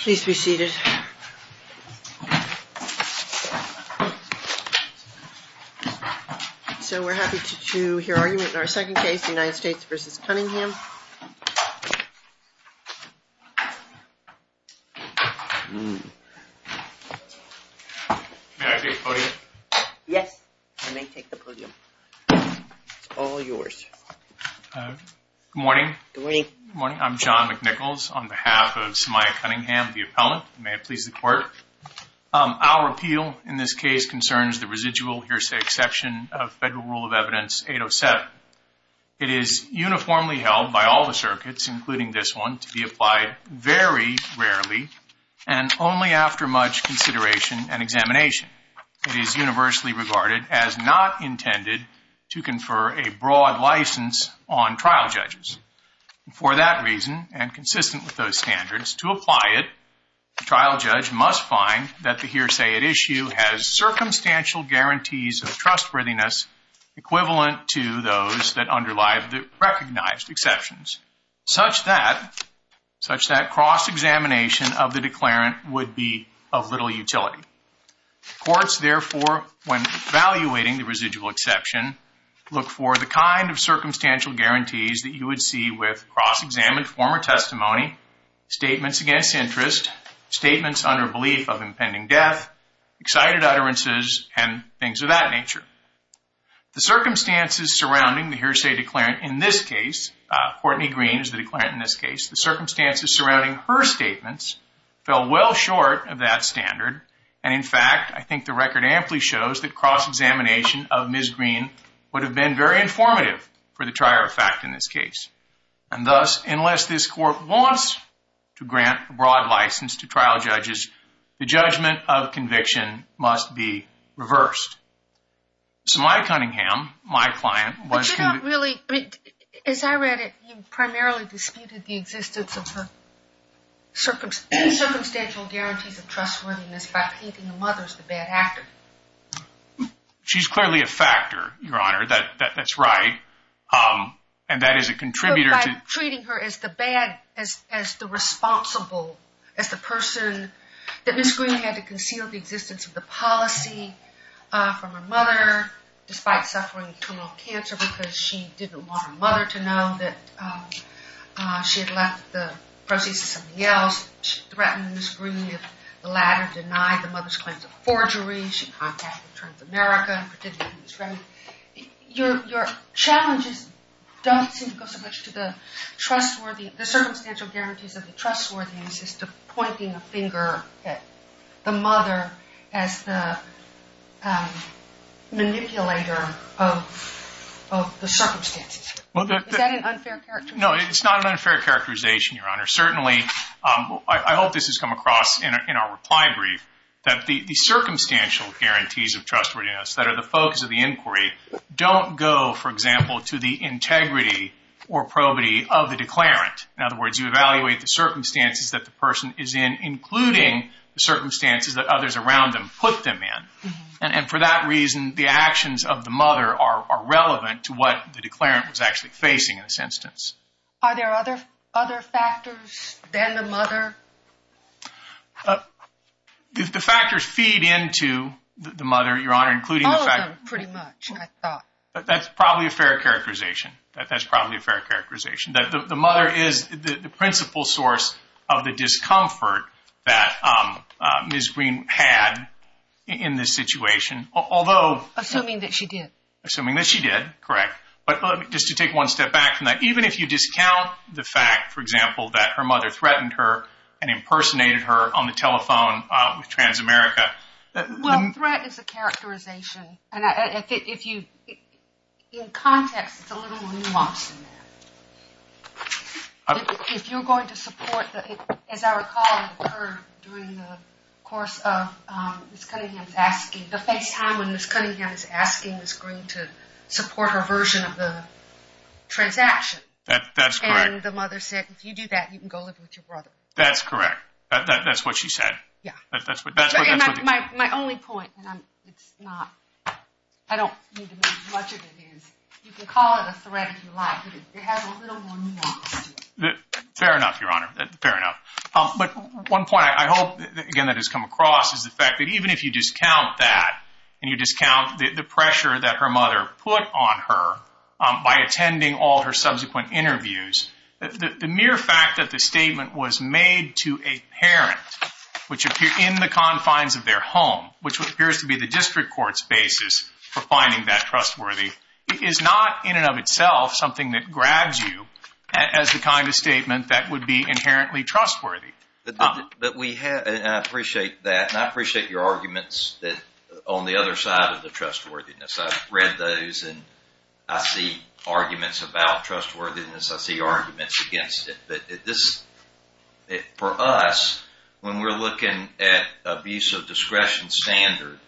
Please be seated. So we're happy to hear argument in our second case, the United States v. Cunningham. Good morning. I'm John McNichols on behalf of Semyya Cunningham, the appellant. May it please the court. Our appeal in this case concerns the residual hearsay exception of Federal Rule of Evidence 807. It is uniformly held by all the circuits, including this one, to be applied very rarely and only after much consideration and examination. It is universally regarded as not intended to confer a broad license on trial judges. For that reason, and consistent with those standards, to apply it, the trial judge must find that the hearsay at issue has circumstantial guarantees of trustworthiness equivalent to those that underlie the recognized exceptions, such that cross-examination of the declarant would be of little utility. Courts, therefore, when evaluating the residual exception, look for the kind of circumstantial guarantees that you would see with cross-examined former testimony, statements against interest, statements under belief of impending death, excited utterances, and things of that nature. The circumstances surrounding the hearsay declarant in this case, Courtney Green is the declarant in this case, the circumstances surrounding her statements fell well short of that standard. And in fact, I think the record amply shows that cross-examination of Ms. Green would have been very informative for the trier of fact in this case. And thus, unless this court wants to grant a broad license to trial judges, the judgment of conviction must be reversed. So my Cunningham, my client, was- But you don't really, as I read it, you primarily disputed the existence of the circumstantial guarantees of trustworthiness by painting the mothers the bad actor. She's clearly a factor, Your Honor, that's right. And that is a contributor to- But by treating her as the bad, as the responsible, as the person, that Ms. Green had to conceal the existence of the policy from her mother, despite suffering terminal cancer because she didn't want her mother to know that she had left the proceeds to somebody else, she threatened Ms. Green if the latter denied the mother's claims of forgery. She contacted Transamerica, particularly Ms. Remington. Your challenges don't seem to go so much to the trustworthiness, the circumstantial guarantees of the trustworthiness, as to pointing a finger at the mother as the manipulator of the circumstances. Is that an unfair characterization? Your Honor, certainly, I hope this has come across in our reply brief, that the circumstantial guarantees of trustworthiness that are the focus of the inquiry don't go, for example, to the integrity or probity of the declarant. In other words, you evaluate the circumstances that the person is in, including the circumstances that others around them put them in. And for that reason, the actions of the mother are relevant to what the declarant was actually facing in this instance. Are there other factors than the mother? If the factors feed into the mother, Your Honor, including the fact that All of them, pretty much, I thought. That's probably a fair characterization. That's probably a fair characterization. The mother is the principal source of the discomfort that Ms. Green had in this situation, although Assuming that she did. Assuming that she did, correct. But just to take one step back from that. Even if you discount the fact, for example, that her mother threatened her and impersonated her on the telephone with Transamerica. Well, threat is a characterization. In context, it's a little more nuanced than that. If you're going to support, as I recall, during the course of Ms. Cunningham's asking, the face time when Ms. Cunningham is asking Ms. Green to support her version of the transaction. That's correct. And the mother said, if you do that, you can go live with your brother. That's correct. That's what she said. Yeah. That's what she said. My only point, and it's not, I don't need to make as much of an advance. You can call it a threat if you like. It has a little more nuance to it. Fair enough, Your Honor. Fair enough. But one point I hope, again, that has come across is the fact that even if you discount that and you discount the pressure that her mother put on her by attending all her subsequent interviews, the mere fact that the statement was made to a parent in the confines of their home, which appears to be the district court's basis for finding that trustworthy, is not in and of itself something that grabs you as the kind of statement that would be inherently trustworthy. But we have, and I appreciate that, and I appreciate your arguments on the other side of the trustworthiness. I've read those, and I see arguments about trustworthiness. I see arguments against it. But for us, when we're looking at abuse of discretion standard,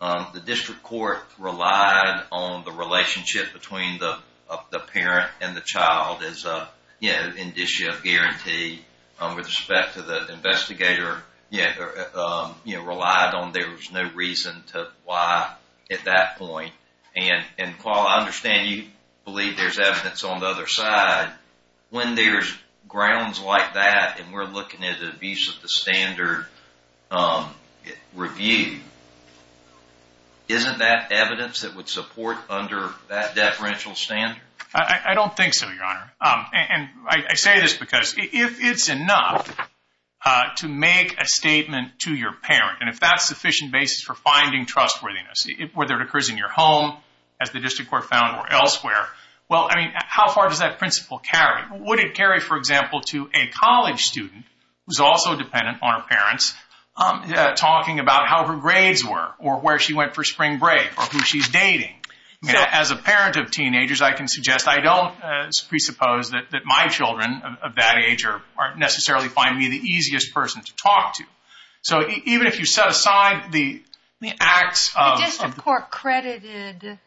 the district court relied on the relationship between the parent and the child as an indicia guarantee. With respect to the investigator, relied on there was no reason to lie at that point. And, Paul, I understand you believe there's evidence on the other side. When there's grounds like that and we're looking at abuse of the standard review, isn't that evidence that would support under that deferential standard? I don't think so, Your Honor. And I say this because if it's enough to make a statement to your parent, and if that's sufficient basis for finding trustworthiness, whether it occurs in your home, as the district court found or elsewhere, well, I mean, how far does that principle carry? Would it carry, for example, to a college student who's also dependent on her parents, talking about how her grades were or where she went for spring break or who she's dating? As a parent of teenagers, I can suggest I don't presuppose that my children of that age necessarily find me the easiest person to talk to. So even if you set aside the acts of... The district court credited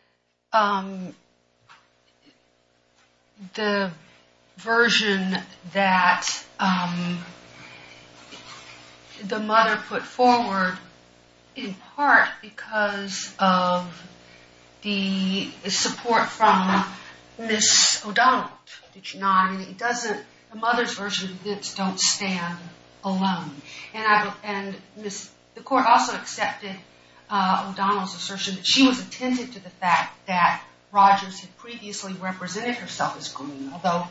the version that the mother put forward, in part because of the support from Ms. O'Donnell. The mother's version of this don't stand alone. And the court also accepted O'Donnell's assertion that she was attentive to the fact that Rogers had previously represented herself as green, although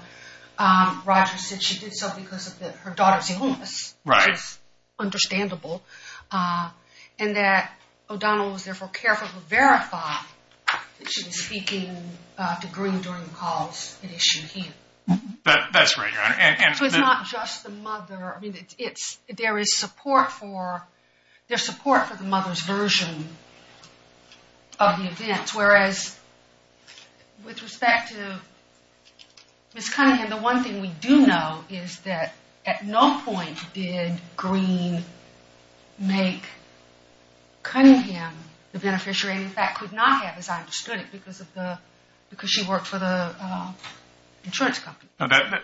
Rogers said she did so because of her daughter's illness. Right. It's understandable. And that O'Donnell was therefore careful to verify that she was speaking to green during the calls that issued here. That's right, Your Honor. So it's not just the mother. I mean, there is support for the mother's version of the events, whereas with respect to Ms. Cunningham, the one thing we do know is that at no point did green make Cunningham the beneficiary and in fact could not have, as I understood it, because she worked for the insurance company.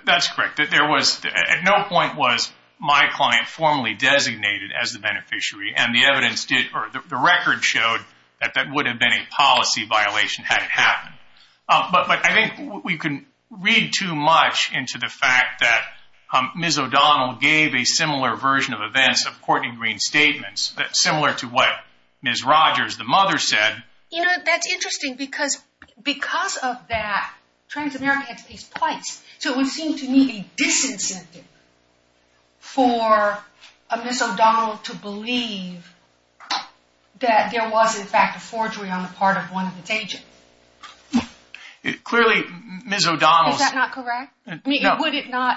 That's correct. At no point was my client formally designated as the beneficiary, and the record showed that that would have been a policy violation had it happened. But I think we can read too much into the fact that Ms. O'Donnell gave a similar version of events of Courtney Green's statements, similar to what Ms. Rogers, the mother, said. You know, that's interesting because of that, Transamerica had to pay twice. So it would seem to me a disincentive for Ms. O'Donnell to believe that there was, in fact, a forgery on the part of one of its agents. Clearly, Ms. O'Donnell's… Is that not correct? No.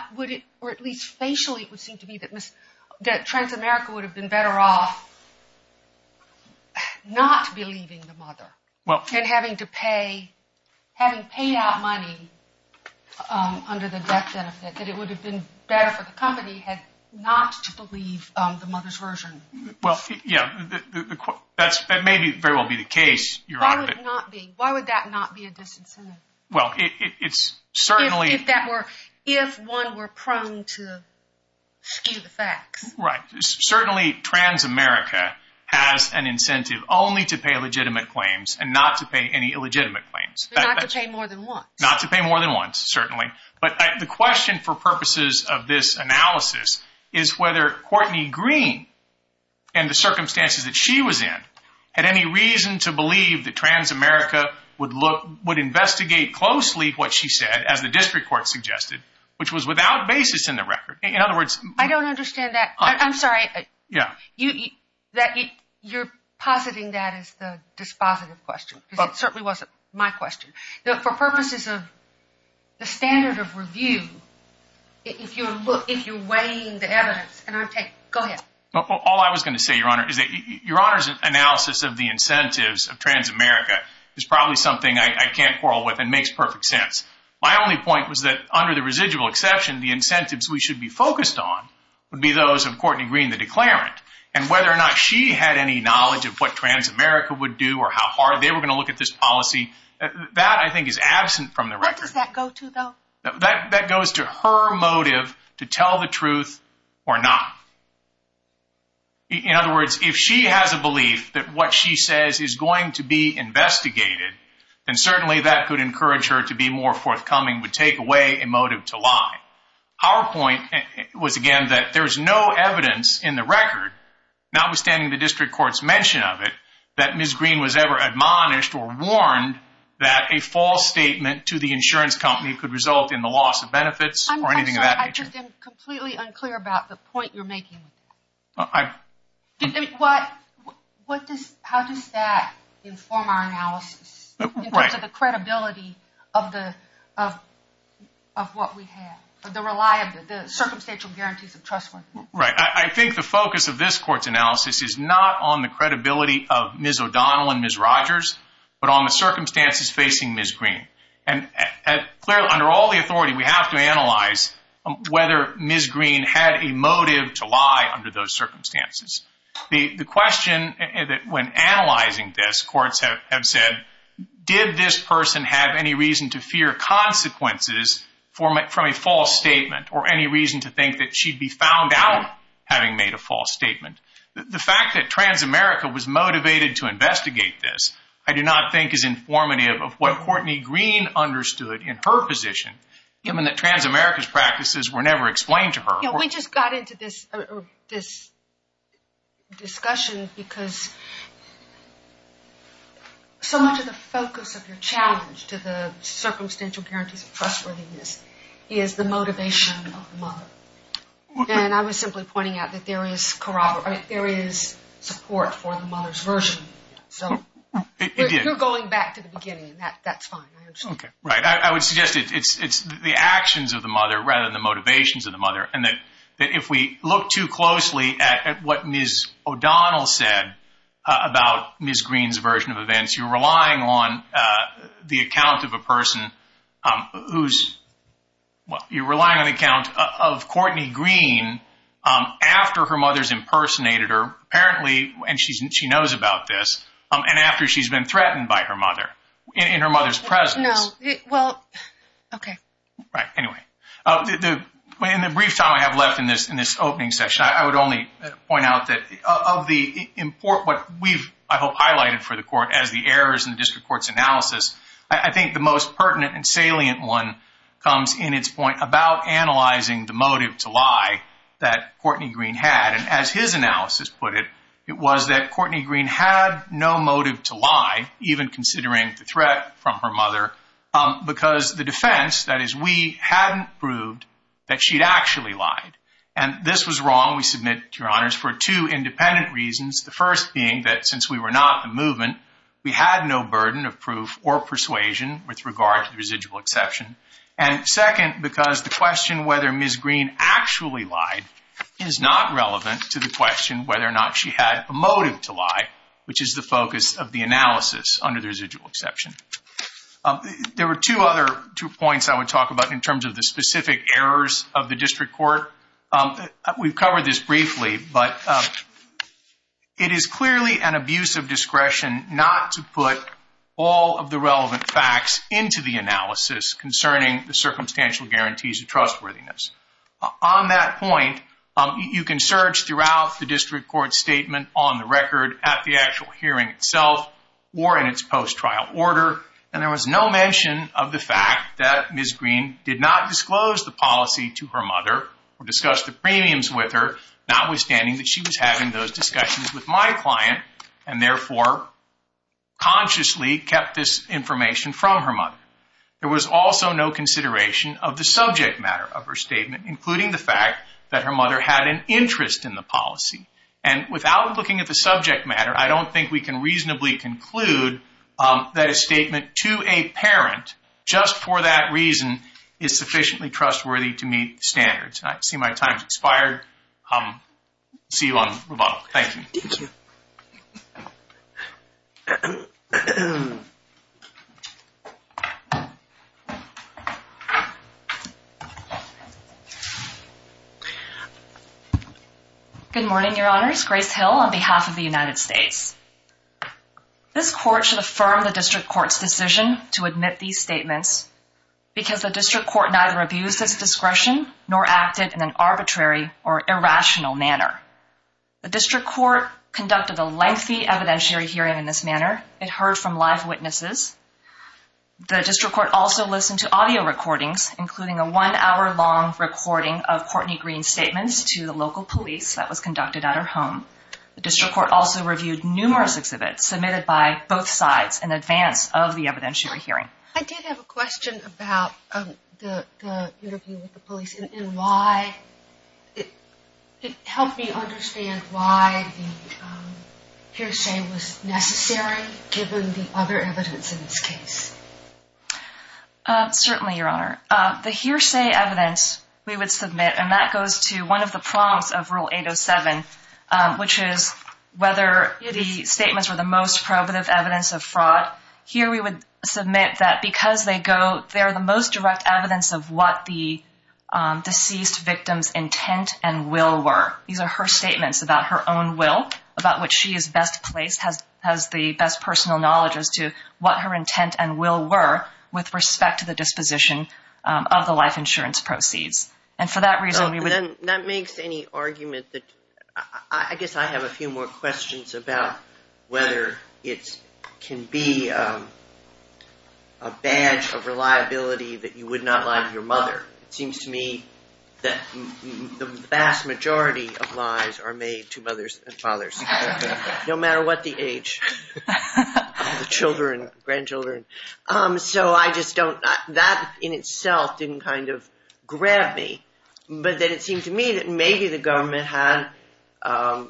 Or at least facially, it would seem to me that Transamerica would have been better off not believing the mother and having paid out money under the death benefit, that it would have been better for the company not to believe the mother's version. Well, yeah, that may very well be the case, Your Honor. Why would that not be a disincentive? Well, it's certainly… If one were prone to skew the facts. Right. Certainly, Transamerica has an incentive only to pay legitimate claims and not to pay any illegitimate claims. Not to pay more than once. Not to pay more than once, certainly. But the question for purposes of this analysis is whether Courtney Green and the circumstances that she was in had any reason to believe that Transamerica would investigate closely what she said, as the district court suggested, which was without basis in the record. In other words… I don't understand that. I'm sorry. Yeah. You're positing that as the dispositive question. It certainly wasn't my question. For purposes of the standard of review, if you're weighing the evidence… Go ahead. All I was going to say, Your Honor, is that Your Honor's analysis of the incentives of Transamerica is probably something I can't quarrel with and makes perfect sense. My only point was that under the residual exception, the incentives we should be focused on would be those of Courtney Green, the declarant. And whether or not she had any knowledge of what Transamerica would do or how hard they were going to look at this policy, that I think is absent from the record. What does that go to, though? That goes to her motive to tell the truth or not. In other words, if she has a belief that what she says is going to be investigated, then certainly that could encourage her to be more forthcoming, would take away a motive to lie. Our point was, again, that there's no evidence in the record, notwithstanding the district court's mention of it, that Ms. Green was ever admonished or warned that a false statement to the insurance company could result in the loss of benefits or anything of that nature. I just am completely unclear about the point you're making. How does that inform our analysis in terms of the credibility of what we have, the reliability, the circumstantial guarantees of trustworthiness? Right. I think the focus of this court's analysis is not on the credibility of Ms. O'Donnell and Ms. Rogers, but on the circumstances facing Ms. Green. Clearly, under all the authority, we have to analyze whether Ms. Green had a motive to lie under those circumstances. The question when analyzing this, courts have said, did this person have any reason to fear consequences from a false statement or any reason to think that she'd be found out having made a false statement? The fact that Transamerica was motivated to investigate this, I do not think is informative of what Courtney Green understood in her position, given that Transamerica's practices were never explained to her. We just got into this discussion because so much of the focus of your challenge to the circumstantial guarantees of trustworthiness is the motivation of the mother. And I was simply pointing out that there is support for the mother's version. So you're going back to the beginning. That's fine. Right. I would suggest it's the actions of the mother rather than the motivations of the mother, and that if we look too closely at what Ms. O'Donnell said about Ms. Green's version of events, you're relying on the account of a person who's – you're relying on the account of Courtney Green after her mother's impersonated her, apparently, and she knows about this, and after she's been threatened by her mother in her mother's presence. No. Well, okay. Right. Anyway, in the brief time I have left in this opening session, I would only point out that of the – what we've, I hope, highlighted for the court as the errors in the district court's analysis, I think the most pertinent and salient one comes in its point about analyzing the motive to lie that Courtney Green had. And as his analysis put it, it was that Courtney Green had no motive to lie, even considering the threat from her mother, because the defense, that is, we hadn't proved that she'd actually lied. And this was wrong, we submit, Your Honors, for two independent reasons, the first being that since we were not in the movement, we had no burden of proof or persuasion with regard to the residual exception. And second, because the question whether Ms. Green actually lied is not relevant to the question whether or not she had a motive to lie, which is the focus of the analysis under the residual exception. There were two other points I would talk about in terms of the specific errors of the district court. We've covered this briefly, but it is clearly an abuse of discretion not to put all of the relevant facts into the analysis concerning the circumstantial guarantees of trustworthiness. On that point, you can search throughout the district court statement on the record at the actual hearing itself or in its post-trial order, and there was no mention of the fact that Ms. Green did not disclose the policy to her mother or discuss the premiums with her, notwithstanding that she was having those discussions with my client, and therefore consciously kept this information from her mother. There was also no consideration of the subject matter of her statement, including the fact that her mother had an interest in the policy. And without looking at the subject matter, I don't think we can reasonably conclude that a statement to a parent just for that reason is sufficiently trustworthy to meet standards. I see my time has expired. See you on the rebuttal. Thank you. Thank you. Good morning, Your Honors. Grace Hill on behalf of the United States. This court should affirm the district court's decision to admit these statements because the district court neither abused its discretion nor acted in an arbitrary or irrational manner. It was a lengthy evidentiary hearing in this manner. It heard from live witnesses. The district court also listened to audio recordings, including a one-hour long recording of Courtney Green's statements to the local police that was conducted at her home. The district court also reviewed numerous exhibits submitted by both sides in advance of the evidentiary hearing. I did have a question about the interview with the police and why it helped me understand why the hearsay was necessary, given the other evidence in this case. Certainly, Your Honor. The hearsay evidence we would submit, and that goes to one of the prompts of Rule 807, which is whether the statements were the most probative evidence of fraud. Here we would submit that because they are the most direct evidence of what the deceased victim's intent and will were. These are her statements about her own will, about what she is best placed, has the best personal knowledge as to what her intent and will were with respect to the disposition of the life insurance proceeds. That makes any argument. I guess I have a few more questions about whether it can be a badge of reliability that you would not lie to your mother. It seems to me that the vast majority of lies are made to mothers and fathers, no matter what the age of the children, grandchildren. That in itself didn't kind of grab me. But then it seemed to me that maybe the government had a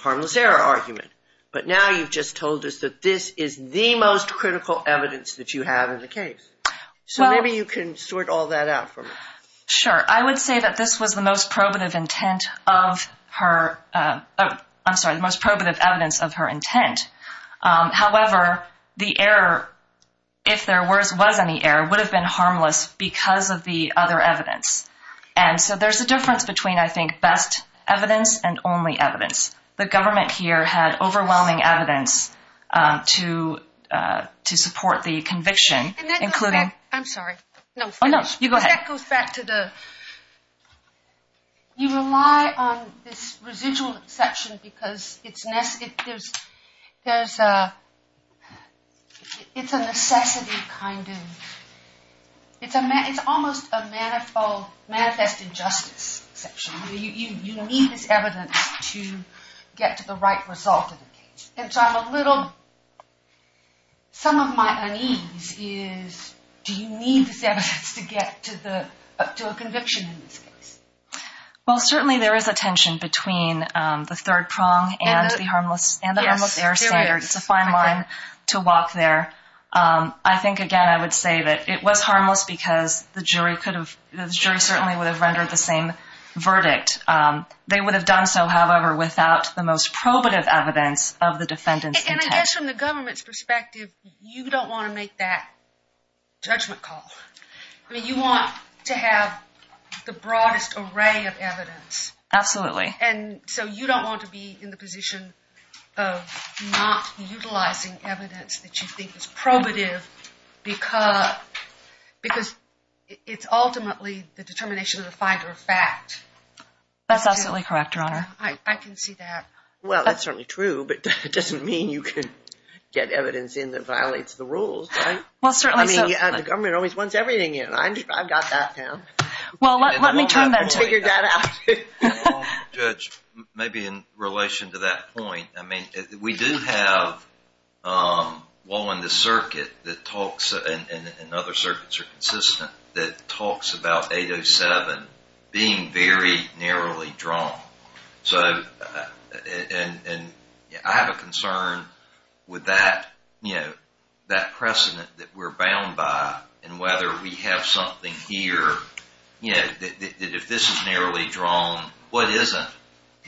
harmless error argument. But now you've just told us that this is the most critical evidence that you have in the case. So maybe you can sort all that out for me. Sure. I would say that this was the most probative evidence of her intent. However, the error, if there was any error, would have been harmless because of the other evidence. And so there's a difference between, I think, best evidence and only evidence. The government here had overwhelming evidence to support the conviction, including— And that goes back—I'm sorry. Oh, no, you go ahead. That goes back to the— You rely on this residual exception because it's a necessity, kind of. It's almost a manifest injustice exception. You need this evidence to get to the right result in the case. And so I'm a little—some of my unease is, do you need this evidence to get to a conviction in this case? Well, certainly there is a tension between the third prong and the harmless error standard. It's a fine line to walk there. I think, again, I would say that it was harmless because the jury certainly would have rendered the same verdict. They would have done so, however, without the most probative evidence of the defendant's intent. And I guess from the government's perspective, you don't want to make that judgment call. I mean, you want to have the broadest array of evidence. Absolutely. And so you don't want to be in the position of not utilizing evidence that you think is probative because it's ultimately the determination of the finder of fact. That's absolutely correct, Your Honor. I can see that. Well, that's certainly true, but it doesn't mean you can get evidence in that violates the rules, right? Well, certainly so. I mean, the government always wants everything in. I've got that, Pam. Well, let me turn that to you. Judge, maybe in relation to that point, I mean, we do have one in the circuit that talks, and other circuits are consistent, that talks about 807 being very narrowly drawn. So, and I have a concern with that, you know, that precedent that we're bound by and whether we have something here, you know, that if this is narrowly drawn, what isn't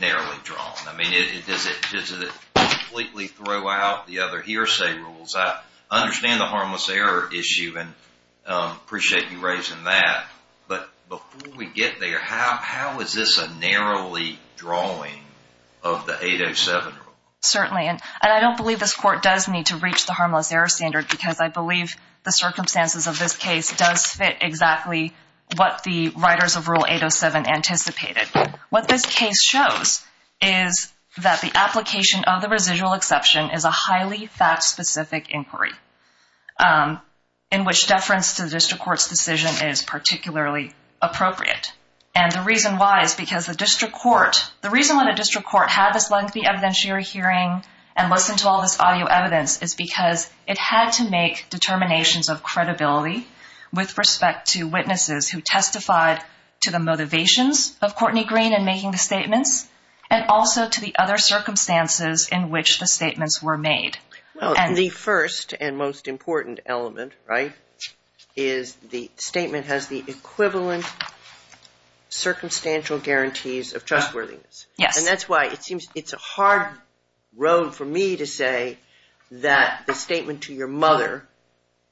narrowly drawn? I mean, does it completely throw out the other hearsay rules? I understand the harmless error issue and appreciate you raising that. But before we get there, how is this a narrowly drawing of the 807 rule? Certainly. And I don't believe this Court does need to reach the harmless error standard because I believe the circumstances of this case does fit exactly what the writers of Rule 807 anticipated. What this case shows is that the application of the residual exception is a highly fact-specific inquiry in which deference to the district court's decision is particularly appropriate. And the reason why is because the district court, the reason why the district court had this lengthy evidentiary hearing and listened to all this audio evidence is because it had to make determinations of credibility with respect to witnesses who testified to the motivations of Courtney Green in making the statements and also to the other circumstances in which the statements were made. Well, the first and most important element, right, is the statement has the equivalent circumstantial guarantees of trustworthiness. Yes. And that's why it seems it's a hard road for me to say that the statement to your mother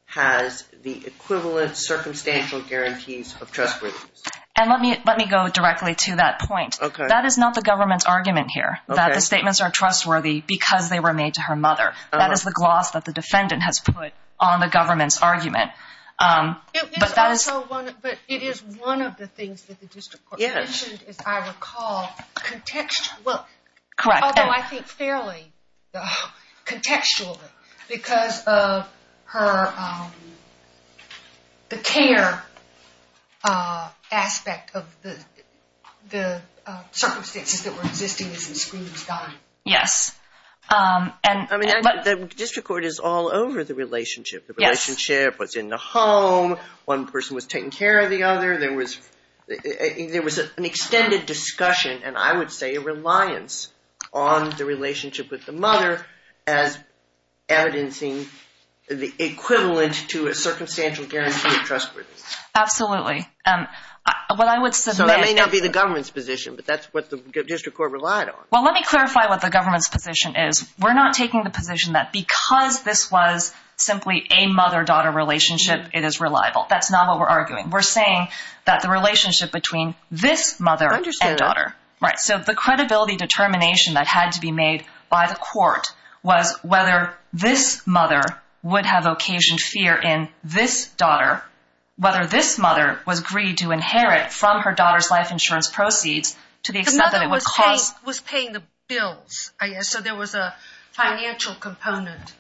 has the equivalent circumstantial guarantees of trustworthiness. And let me go directly to that point. Okay. That is not the government's argument here, that the statements are trustworthy because they were made to her mother. That is the gloss that the defendant has put on the government's argument. But it is one of the things that the district court mentioned, as I recall, although I think fairly contextually, because of the care aspect of the circumstances that were existing as the screening was done. Yes. The district court is all over the relationship. The relationship was in the home. One person was taking care of the other. There was an extended discussion, and I would say a reliance, on the relationship with the mother as evidencing the equivalent to a circumstantial guarantee of trustworthiness. Absolutely. So that may not be the government's position, but that's what the district court relied on. Well, let me clarify what the government's position is. We're not taking the position that because this was simply a mother-daughter relationship, it is reliable. That's not what we're arguing. We're saying that the relationship between this mother and daughter. I understand that. Right. So the credibility determination that had to be made by the court was whether this mother would have occasioned fear in this daughter, whether this mother was agreed to inherit from her daughter's life insurance proceeds to the extent that it would cause— The mother was paying the bills. So there was a financial component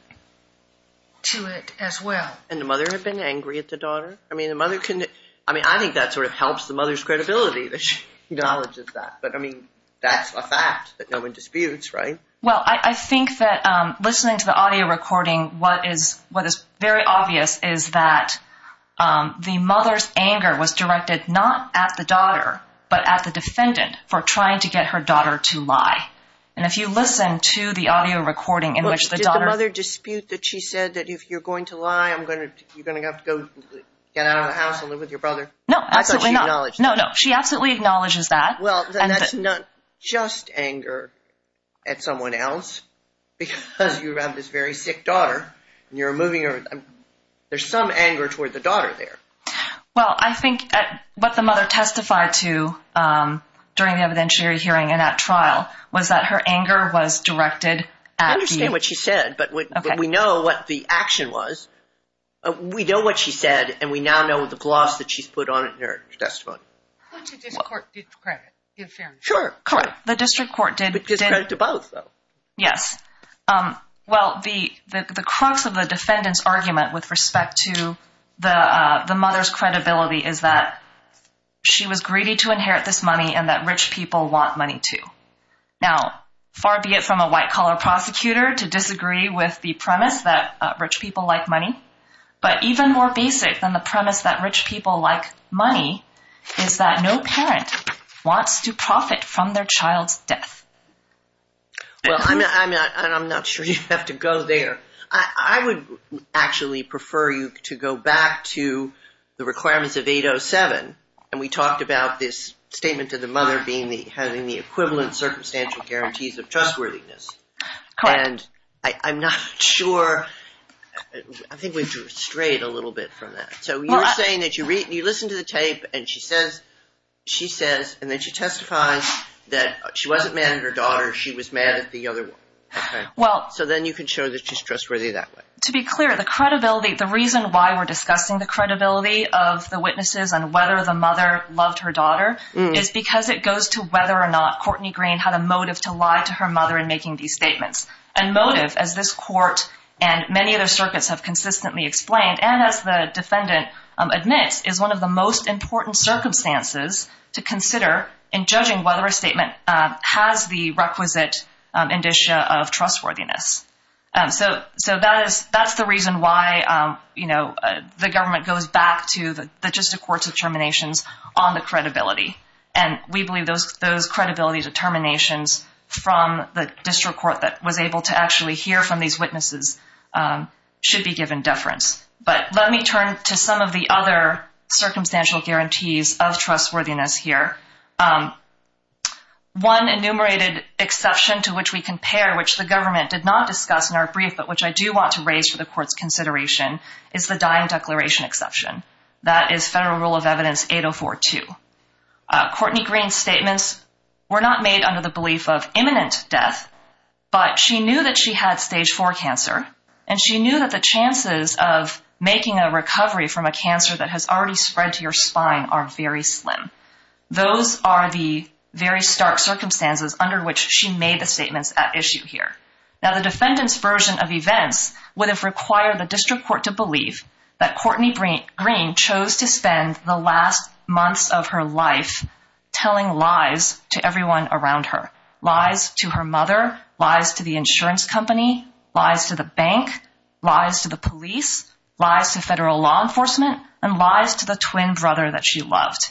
to it as well. And the mother had been angry at the daughter? I mean, the mother—I mean, I think that sort of helps the mother's credibility that she acknowledges that. But, I mean, that's a fact that no one disputes, right? Well, I think that listening to the audio recording, what is very obvious is that the mother's anger was directed not at the daughter, but at the defendant for trying to get her daughter to lie. And if you listen to the audio recording in which the daughter— Did the mother dispute that she said that if you're going to lie, you're going to have to get out of the house and live with your brother? I thought she acknowledged that. No, no. She absolutely acknowledges that. Well, then that's not just anger at someone else because you have this very sick daughter and you're moving her. There's some anger toward the daughter there. Well, I think what the mother testified to during the evidentiary hearing and at trial was that her anger was directed at the— I understand what she said, but we know what the action was. We know what she said, and we now know the gloss that she's put on it in her testimony. Which the district court did to credit, in fairness. Sure. Correct. The district court did— It gives credit to both, though. Yes. Well, the crux of the defendant's argument with respect to the mother's credibility is that she was greedy to inherit this money and that rich people want money, too. Now, far be it from a white-collar prosecutor to disagree with the premise that rich people like money, but even more basic than the premise that rich people like money is that no parent wants to profit from their child's death. Well, I'm not sure you have to go there. I would actually prefer you to go back to the requirements of 807, and we talked about this statement of the mother having the equivalent circumstantial guarantees of trustworthiness. Correct. And I'm not sure—I think we've strayed a little bit from that. So you're saying that you listen to the tape, and she says—she says, and then she testifies that she wasn't mad at her daughter, she was mad at the other one. Okay. Well— So then you can show that she's trustworthy that way. To be clear, the credibility—the reason why we're discussing the credibility of the witnesses and whether the mother loved her daughter is because it goes to whether or not Courtney Green had a motive to lie to her mother in making these statements. And motive, as this court and many other circuits have consistently explained, and as the defendant admits, is one of the most important circumstances to consider in judging whether a statement has the requisite indicia of trustworthiness. So that is—that's the reason why, you know, the government goes back to the justice court's determinations on the credibility. And we believe those credibility determinations from the district court that was able to actually hear from these witnesses should be given deference. But let me turn to some of the other circumstantial guarantees of trustworthiness here. One enumerated exception to which we compare, which the government did not discuss in our brief but which I do want to raise for the court's consideration, is the dying declaration exception. That is Federal Rule of Evidence 8042. Courtney Green's statements were not made under the belief of imminent death, but she knew that she had stage IV cancer, and she knew that the chances of making a recovery from a cancer that has already spread to your spine are very slim. Those are the very stark circumstances under which she made the statements at issue here. Now, the defendant's version of events would have required the district court to believe that Courtney Green chose to spend the last months of her life telling lies to everyone around her, lies to her mother, lies to the insurance company, lies to the bank, lies to the police, lies to federal law enforcement, and lies to the twin brother that she loved.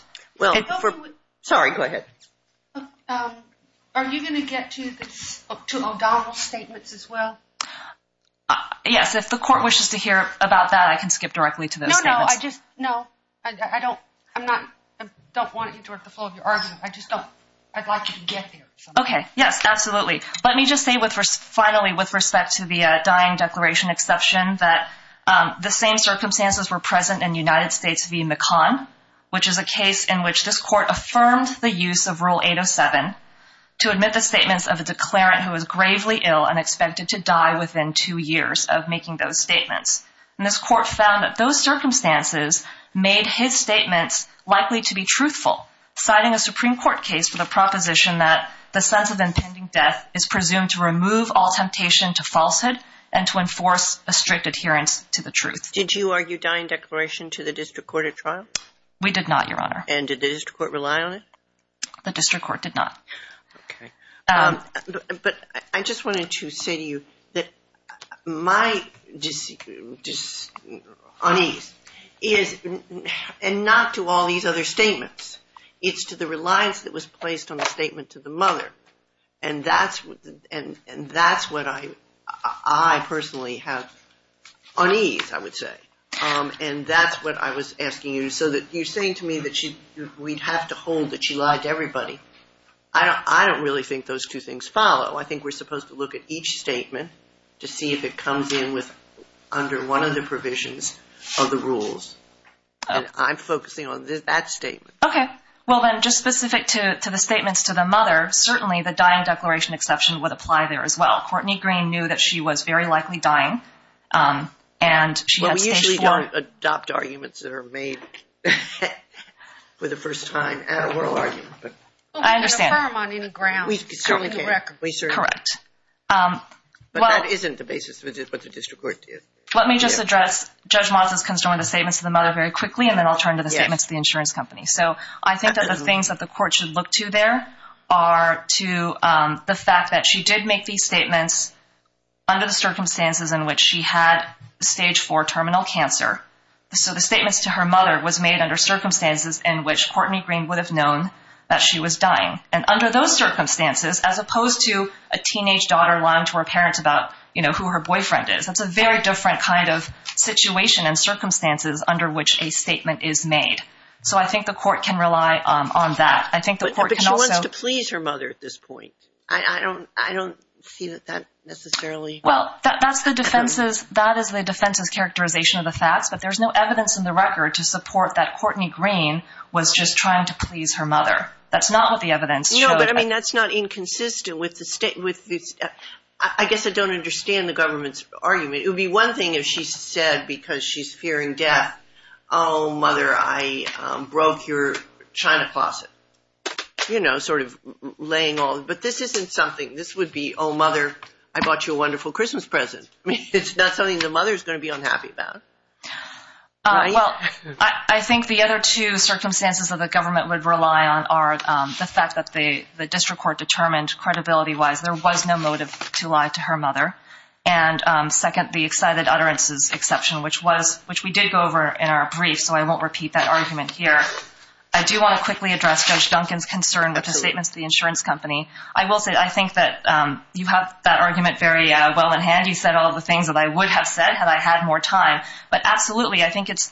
Sorry, go ahead. Are you going to get to O'Donnell's statements as well? Yes, if the court wishes to hear about that, I can skip directly to those statements. No, no, I don't want to interrupt the flow of your argument. I'd like you to get there. Okay, yes, absolutely. Let me just say finally with respect to the dying declaration exception that the same circumstances were present in United States v. McConn, which is a case in which this court affirmed the use of Rule 807 to admit the statements of a declarant who was gravely ill and expected to die within two years of making those statements. And this court found that those circumstances made his statements likely to be truthful, citing a Supreme Court case for the proposition that the sense of impending death is presumed to remove all temptation to falsehood and to enforce a strict adherence to the truth. Did you argue dying declaration to the district court at trial? We did not, Your Honor. And did the district court rely on it? The district court did not. Okay. But I just wanted to say to you that my unease is not to all these other statements. It's to the reliance that was placed on the statement to the mother, and that's what I personally have unease, I would say. And that's what I was asking you. So you're saying to me that we'd have to hold that she lied to everybody. I don't really think those two things follow. I think we're supposed to look at each statement to see if it comes in under one of the provisions of the rules. And I'm focusing on that statement. Okay. Well, then, just specific to the statements to the mother, certainly the dying declaration exception would apply there as well. Courtney Green knew that she was very likely dying, and she had stage four. Well, we usually don't adopt arguments that are made for the first time at oral argument. I understand. We don't affirm on any grounds. We certainly can't. We certainly can't. Correct. But that isn't the basis of what the district court did. Let me just address Judge Motz's concern with the statements to the mother very quickly, and then I'll turn to the statements to the insurance company. So I think that the things that the court should look to there are to the fact that she did make these statements under the circumstances in which she had stage four terminal cancer. So the statements to her mother was made under circumstances in which Courtney Green would have known that she was dying. And under those circumstances, as opposed to a teenage daughter lying to her parents about, you know, who her boyfriend is, that's a very different kind of situation and circumstances under which a statement is made. So I think the court can rely on that. But she wants to please her mother at this point. I don't see that necessarily. Well, that is the defense's characterization of the facts. But there's no evidence in the record to support that Courtney Green was just trying to please her mother. That's not what the evidence showed. No, but, I mean, that's not inconsistent. I guess I don't understand the government's argument. It would be one thing if she said because she's fearing death, oh, mother, I broke your china closet, you know, sort of laying all. But this isn't something. This would be, oh, mother, I bought you a wonderful Christmas present. I mean, it's not something the mother is going to be unhappy about, right? Well, I think the other two circumstances that the government would rely on are the fact that the district court determined credibility-wise there was no motive to lie to her mother. And second, the excited utterances exception, which we did go over in our brief, so I won't repeat that argument here. I do want to quickly address Judge Duncan's concern with his statement to the insurance company. I will say I think that you have that argument very well in hand. You said all the things that I would have said had I had more time. But absolutely, I think it's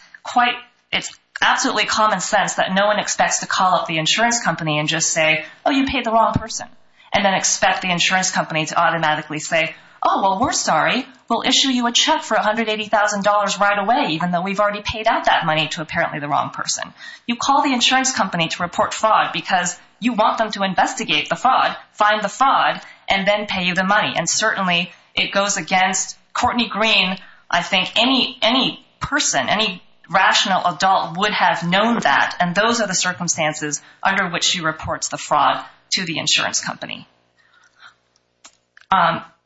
absolutely common sense that no one expects to call up the insurance company and just say, oh, you paid the wrong person, and then expect the insurance company to automatically say, oh, well, we're sorry. We'll issue you a check for $180,000 right away, even though we've already paid out that money to apparently the wrong person. You call the insurance company to report fraud because you want them to investigate the fraud, find the fraud, and then pay you the money. And certainly it goes against Courtney Green. I think any person, any rational adult would have known that, and those are the circumstances under which she reports the fraud to the insurance company.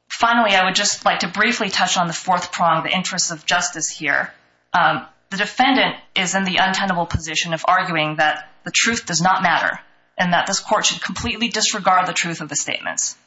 Finally, I would just like to briefly touch on the fourth prong, the interest of justice here. The defendant is in the untenable position of arguing that the truth does not matter and that this court should completely disregard the truth of the statements.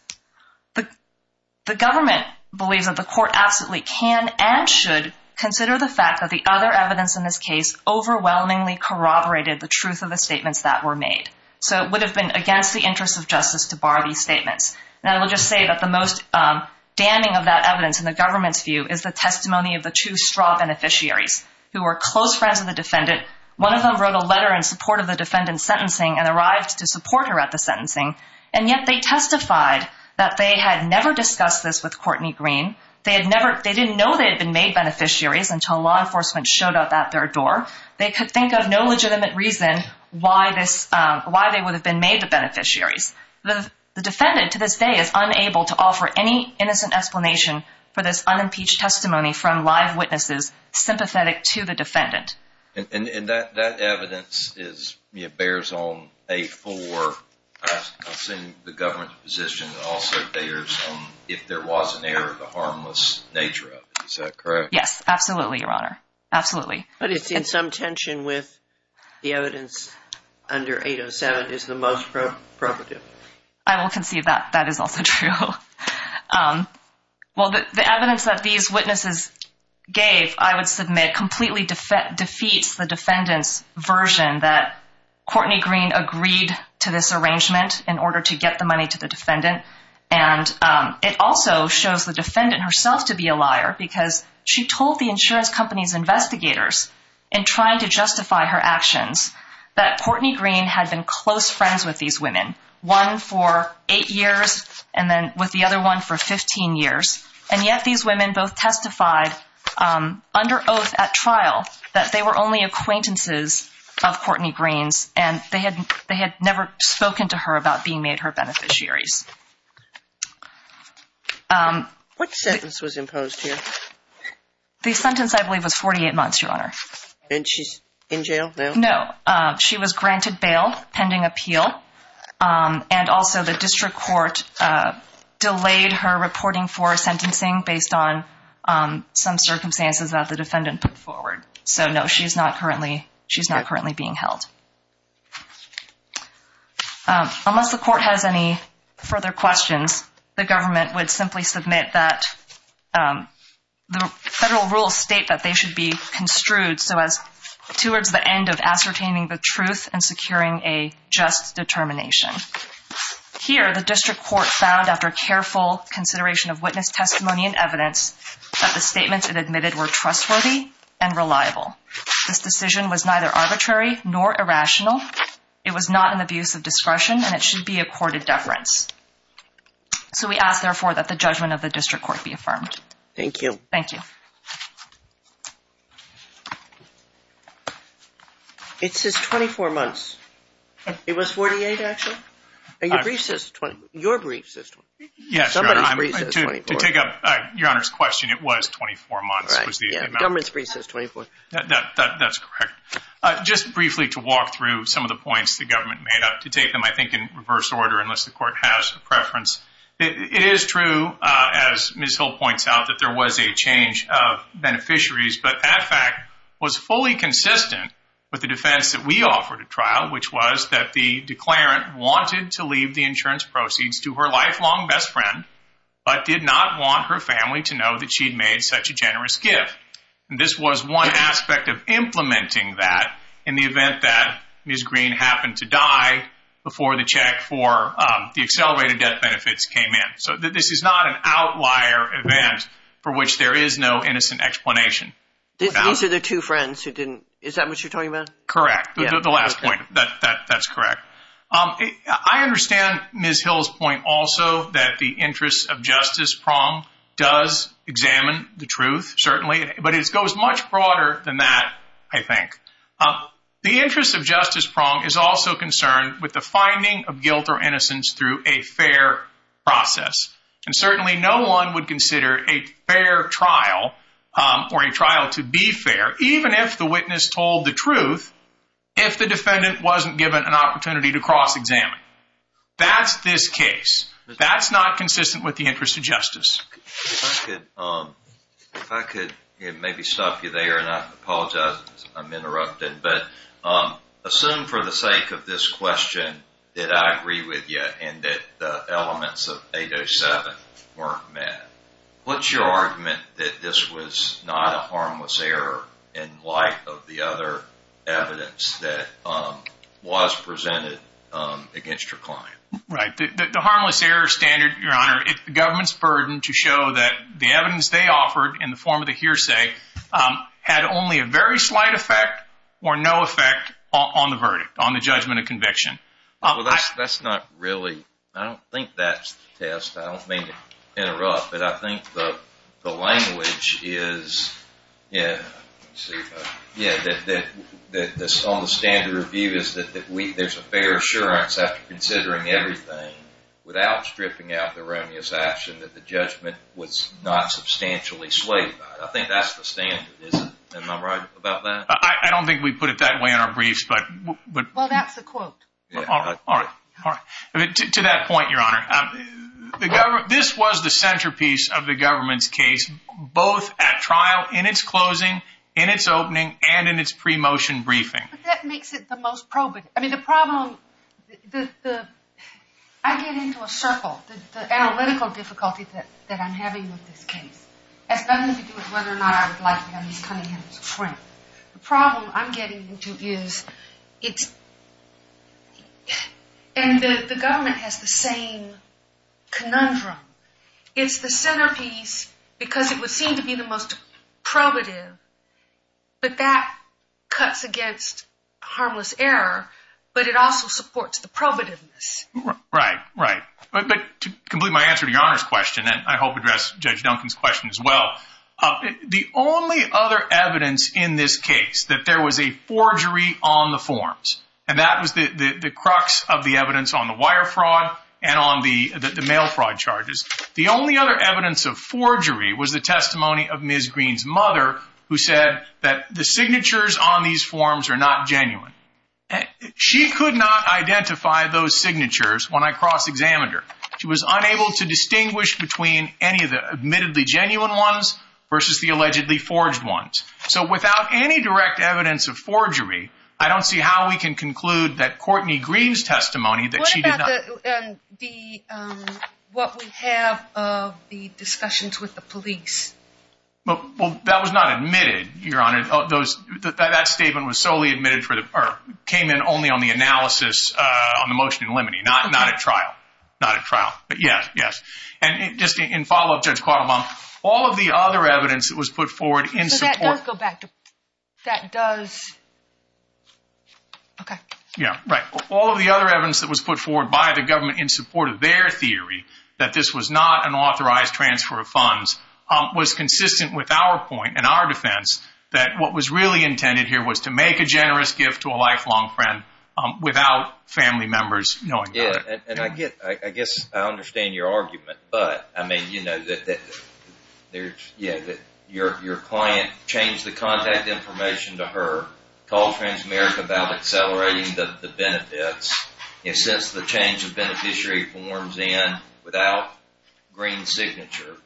The government believes that the court absolutely can and should consider the fact that the other evidence in this case overwhelmingly corroborated the truth of the statements that were made. So it would have been against the interest of justice to bar these statements. And I will just say that the most damning of that evidence in the government's view is the testimony of the two straw beneficiaries who were close friends of the defendant. One of them wrote a letter in support of the defendant's sentencing and arrived to support her at the sentencing, and yet they testified that they had never discussed this with Courtney Green. They didn't know they had been made beneficiaries until law enforcement showed up at their door. They could think of no legitimate reason why they would have been made the beneficiaries. The defendant to this day is unable to offer any innocent explanation for this unimpeached testimony from live witnesses sympathetic to the defendant. And that evidence bears on 8-4. I assume the government's position also bears on if there was an error of the harmless nature of it. Is that correct? Yes, absolutely, Your Honor. Absolutely. But it's in some tension with the evidence under 8-07 is the most probative. I will concede that that is also true. Well, the evidence that these witnesses gave, I would submit, completely defeats the defendant's version that Courtney Green agreed to this arrangement in order to get the money to the defendant. And it also shows the defendant herself to be a liar because she told the insurance company's investigators in trying to justify her actions that Courtney Green had been close friends with these women, one for 8 years and then with the other one for 15 years. And yet these women both testified under oath at trial that they were only acquaintances of Courtney Green's and they had never spoken to her about being made her beneficiaries. What sentence was imposed here? The sentence, I believe, was 48 months, Your Honor. And she's in jail now? No. She was granted bail pending appeal and also the district court delayed her reporting for sentencing based on some circumstances that the defendant put forward. So, no, she's not currently being held. Unless the court has any further questions, the government would simply submit that the federal rules state that they should be construed towards the end of ascertaining the truth and securing a just determination. Here, the district court found, after careful consideration of witness testimony and evidence, that the statements it admitted were trustworthy and reliable. This decision was neither arbitrary nor irrational. It was not an abuse of discretion and it should be accorded deference. So we ask, therefore, that the judgment of the district court be affirmed. Thank you. Thank you. It says 24 months. It was 48, actually? Your brief says 24. Yes, Your Honor. Somebody's brief says 24. To take up Your Honor's question, it was 24 months. The government's brief says 24. That's correct. Just briefly to walk through some of the points the government made up to take them, I think, in reverse order, unless the court has a preference. It is true, as Ms. Hill points out, that there was a change of beneficiaries, but that fact was fully consistent with the defense that we offered at trial, which was that the declarant wanted to leave the insurance proceeds to her lifelong best friend but did not want her family to know that she'd made such a generous gift. And this was one aspect of implementing that in the event that Ms. Green happened to die before the check for the accelerated death benefits came in. So this is not an outlier event for which there is no innocent explanation. These are the two friends who didn't. Is that what you're talking about? Correct. The last point. That's correct. I understand Ms. Hill's point also that the interest of Justice Prong does examine the truth, certainly, but it goes much broader than that, I think. The interest of Justice Prong is also concerned with the finding of guilt or innocence through a fair process. And certainly no one would consider a fair trial or a trial to be fair, even if the witness told the truth, if the defendant wasn't given an opportunity to cross-examine. That's this case. If I could maybe stop you there, and I apologize if I'm interrupting, but assume for the sake of this question that I agree with you and that the elements of 807 weren't met. What's your argument that this was not a harmless error in light of the other evidence that was presented against your client? Right. The harmless error standard, Your Honor, it's the government's burden to show that the evidence they offered in the form of the hearsay had only a very slight effect or no effect on the verdict, on the judgment of conviction. Well, that's not really, I don't think that's the test. I don't mean to interrupt, but I think the language is, yeah, that on the standard of view is that there's a fair assurance after considering everything without stripping out the remuneration that the judgment was not substantially swayed by. I think that's the standard, isn't it? Am I right about that? I don't think we put it that way in our briefs. Well, that's the quote. All right, all right. To that point, Your Honor, this was the centerpiece of the government's case, both at trial, in its closing, in its opening, and in its pre-motion briefing. But that makes it the most probative. I mean, the problem, I get into a circle. The analytical difficulty that I'm having with this case has nothing to do with whether or not I would like to have Ms. Cunningham as a friend. The problem I'm getting into is it's, and the government has the same conundrum. It's the centerpiece because it would seem to be the most probative. But that cuts against harmless error, but it also supports the probativeness. Right, right. But to complete my answer to Your Honor's question, and I hope address Judge Duncan's question as well, the only other evidence in this case that there was a forgery on the forms, and that was the crux of the evidence on the wire fraud and on the mail fraud charges. The only other evidence of forgery was the testimony of Ms. Green's mother, who said that the signatures on these forms are not genuine. She could not identify those signatures when I cross-examined her. She was unable to distinguish between any of the admittedly genuine ones versus the allegedly forged ones. So without any direct evidence of forgery, I don't see how we can conclude that Courtney Green's testimony that she did not. What about what we have of the discussions with the police? Well, that was not admitted, Your Honor. That statement was solely admitted for the, or came in only on the analysis on the motion in limine. Not at trial, not at trial, but yes, yes. And just in follow-up, Judge Quattlebaum, all of the other evidence that was put forward in support. So that does go back to, that does, okay. Yeah, right. All of the other evidence that was put forward by the government in support of their theory that this was not an authorized transfer of funds was consistent with our point and our defense that what was really intended here was to make a generous gift to a lifelong friend without family members knowing about it. And I get, I guess I understand your argument. But, I mean, you know, that your client changed the contact information to her, called Transamerica about accelerating the benefits. And since the change of beneficiary forms in without Green's signature,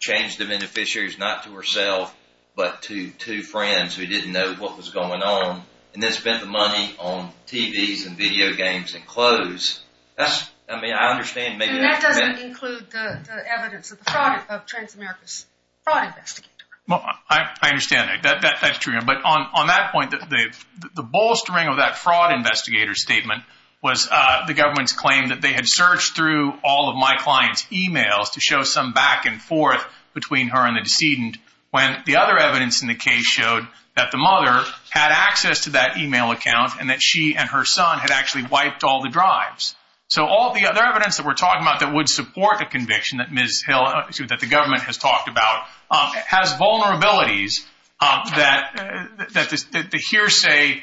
changed the beneficiaries not to herself but to two friends who didn't know what was going on, and then spent the money on TVs and video games and clothes. That's, I mean, I understand maybe. And that doesn't include the evidence of the fraud of Transamerica's fraud investigator. I understand that. That's true. But on that point, the bolstering of that fraud investigator statement was the government's claim that they had searched through all of my client's e-mails to show some back and forth between her and the decedent when the other evidence in the case showed that the mother had access to that e-mail account and that she and her son had actually wiped all the drives. So all the other evidence that we're talking about that would support the conviction that Ms. Hill, that the government has talked about, has vulnerabilities that the hearsay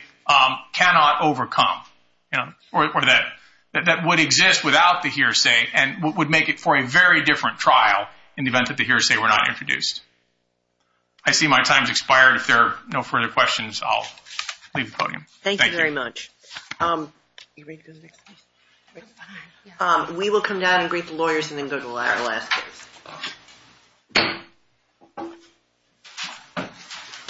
cannot overcome, or that would exist without the hearsay and would make it for a very different trial in the event that the hearsay were not introduced. I see my time has expired. If there are no further questions, I'll leave the podium. Thank you. Thank you very much. We will come down and greet the lawyers and then go to our last case.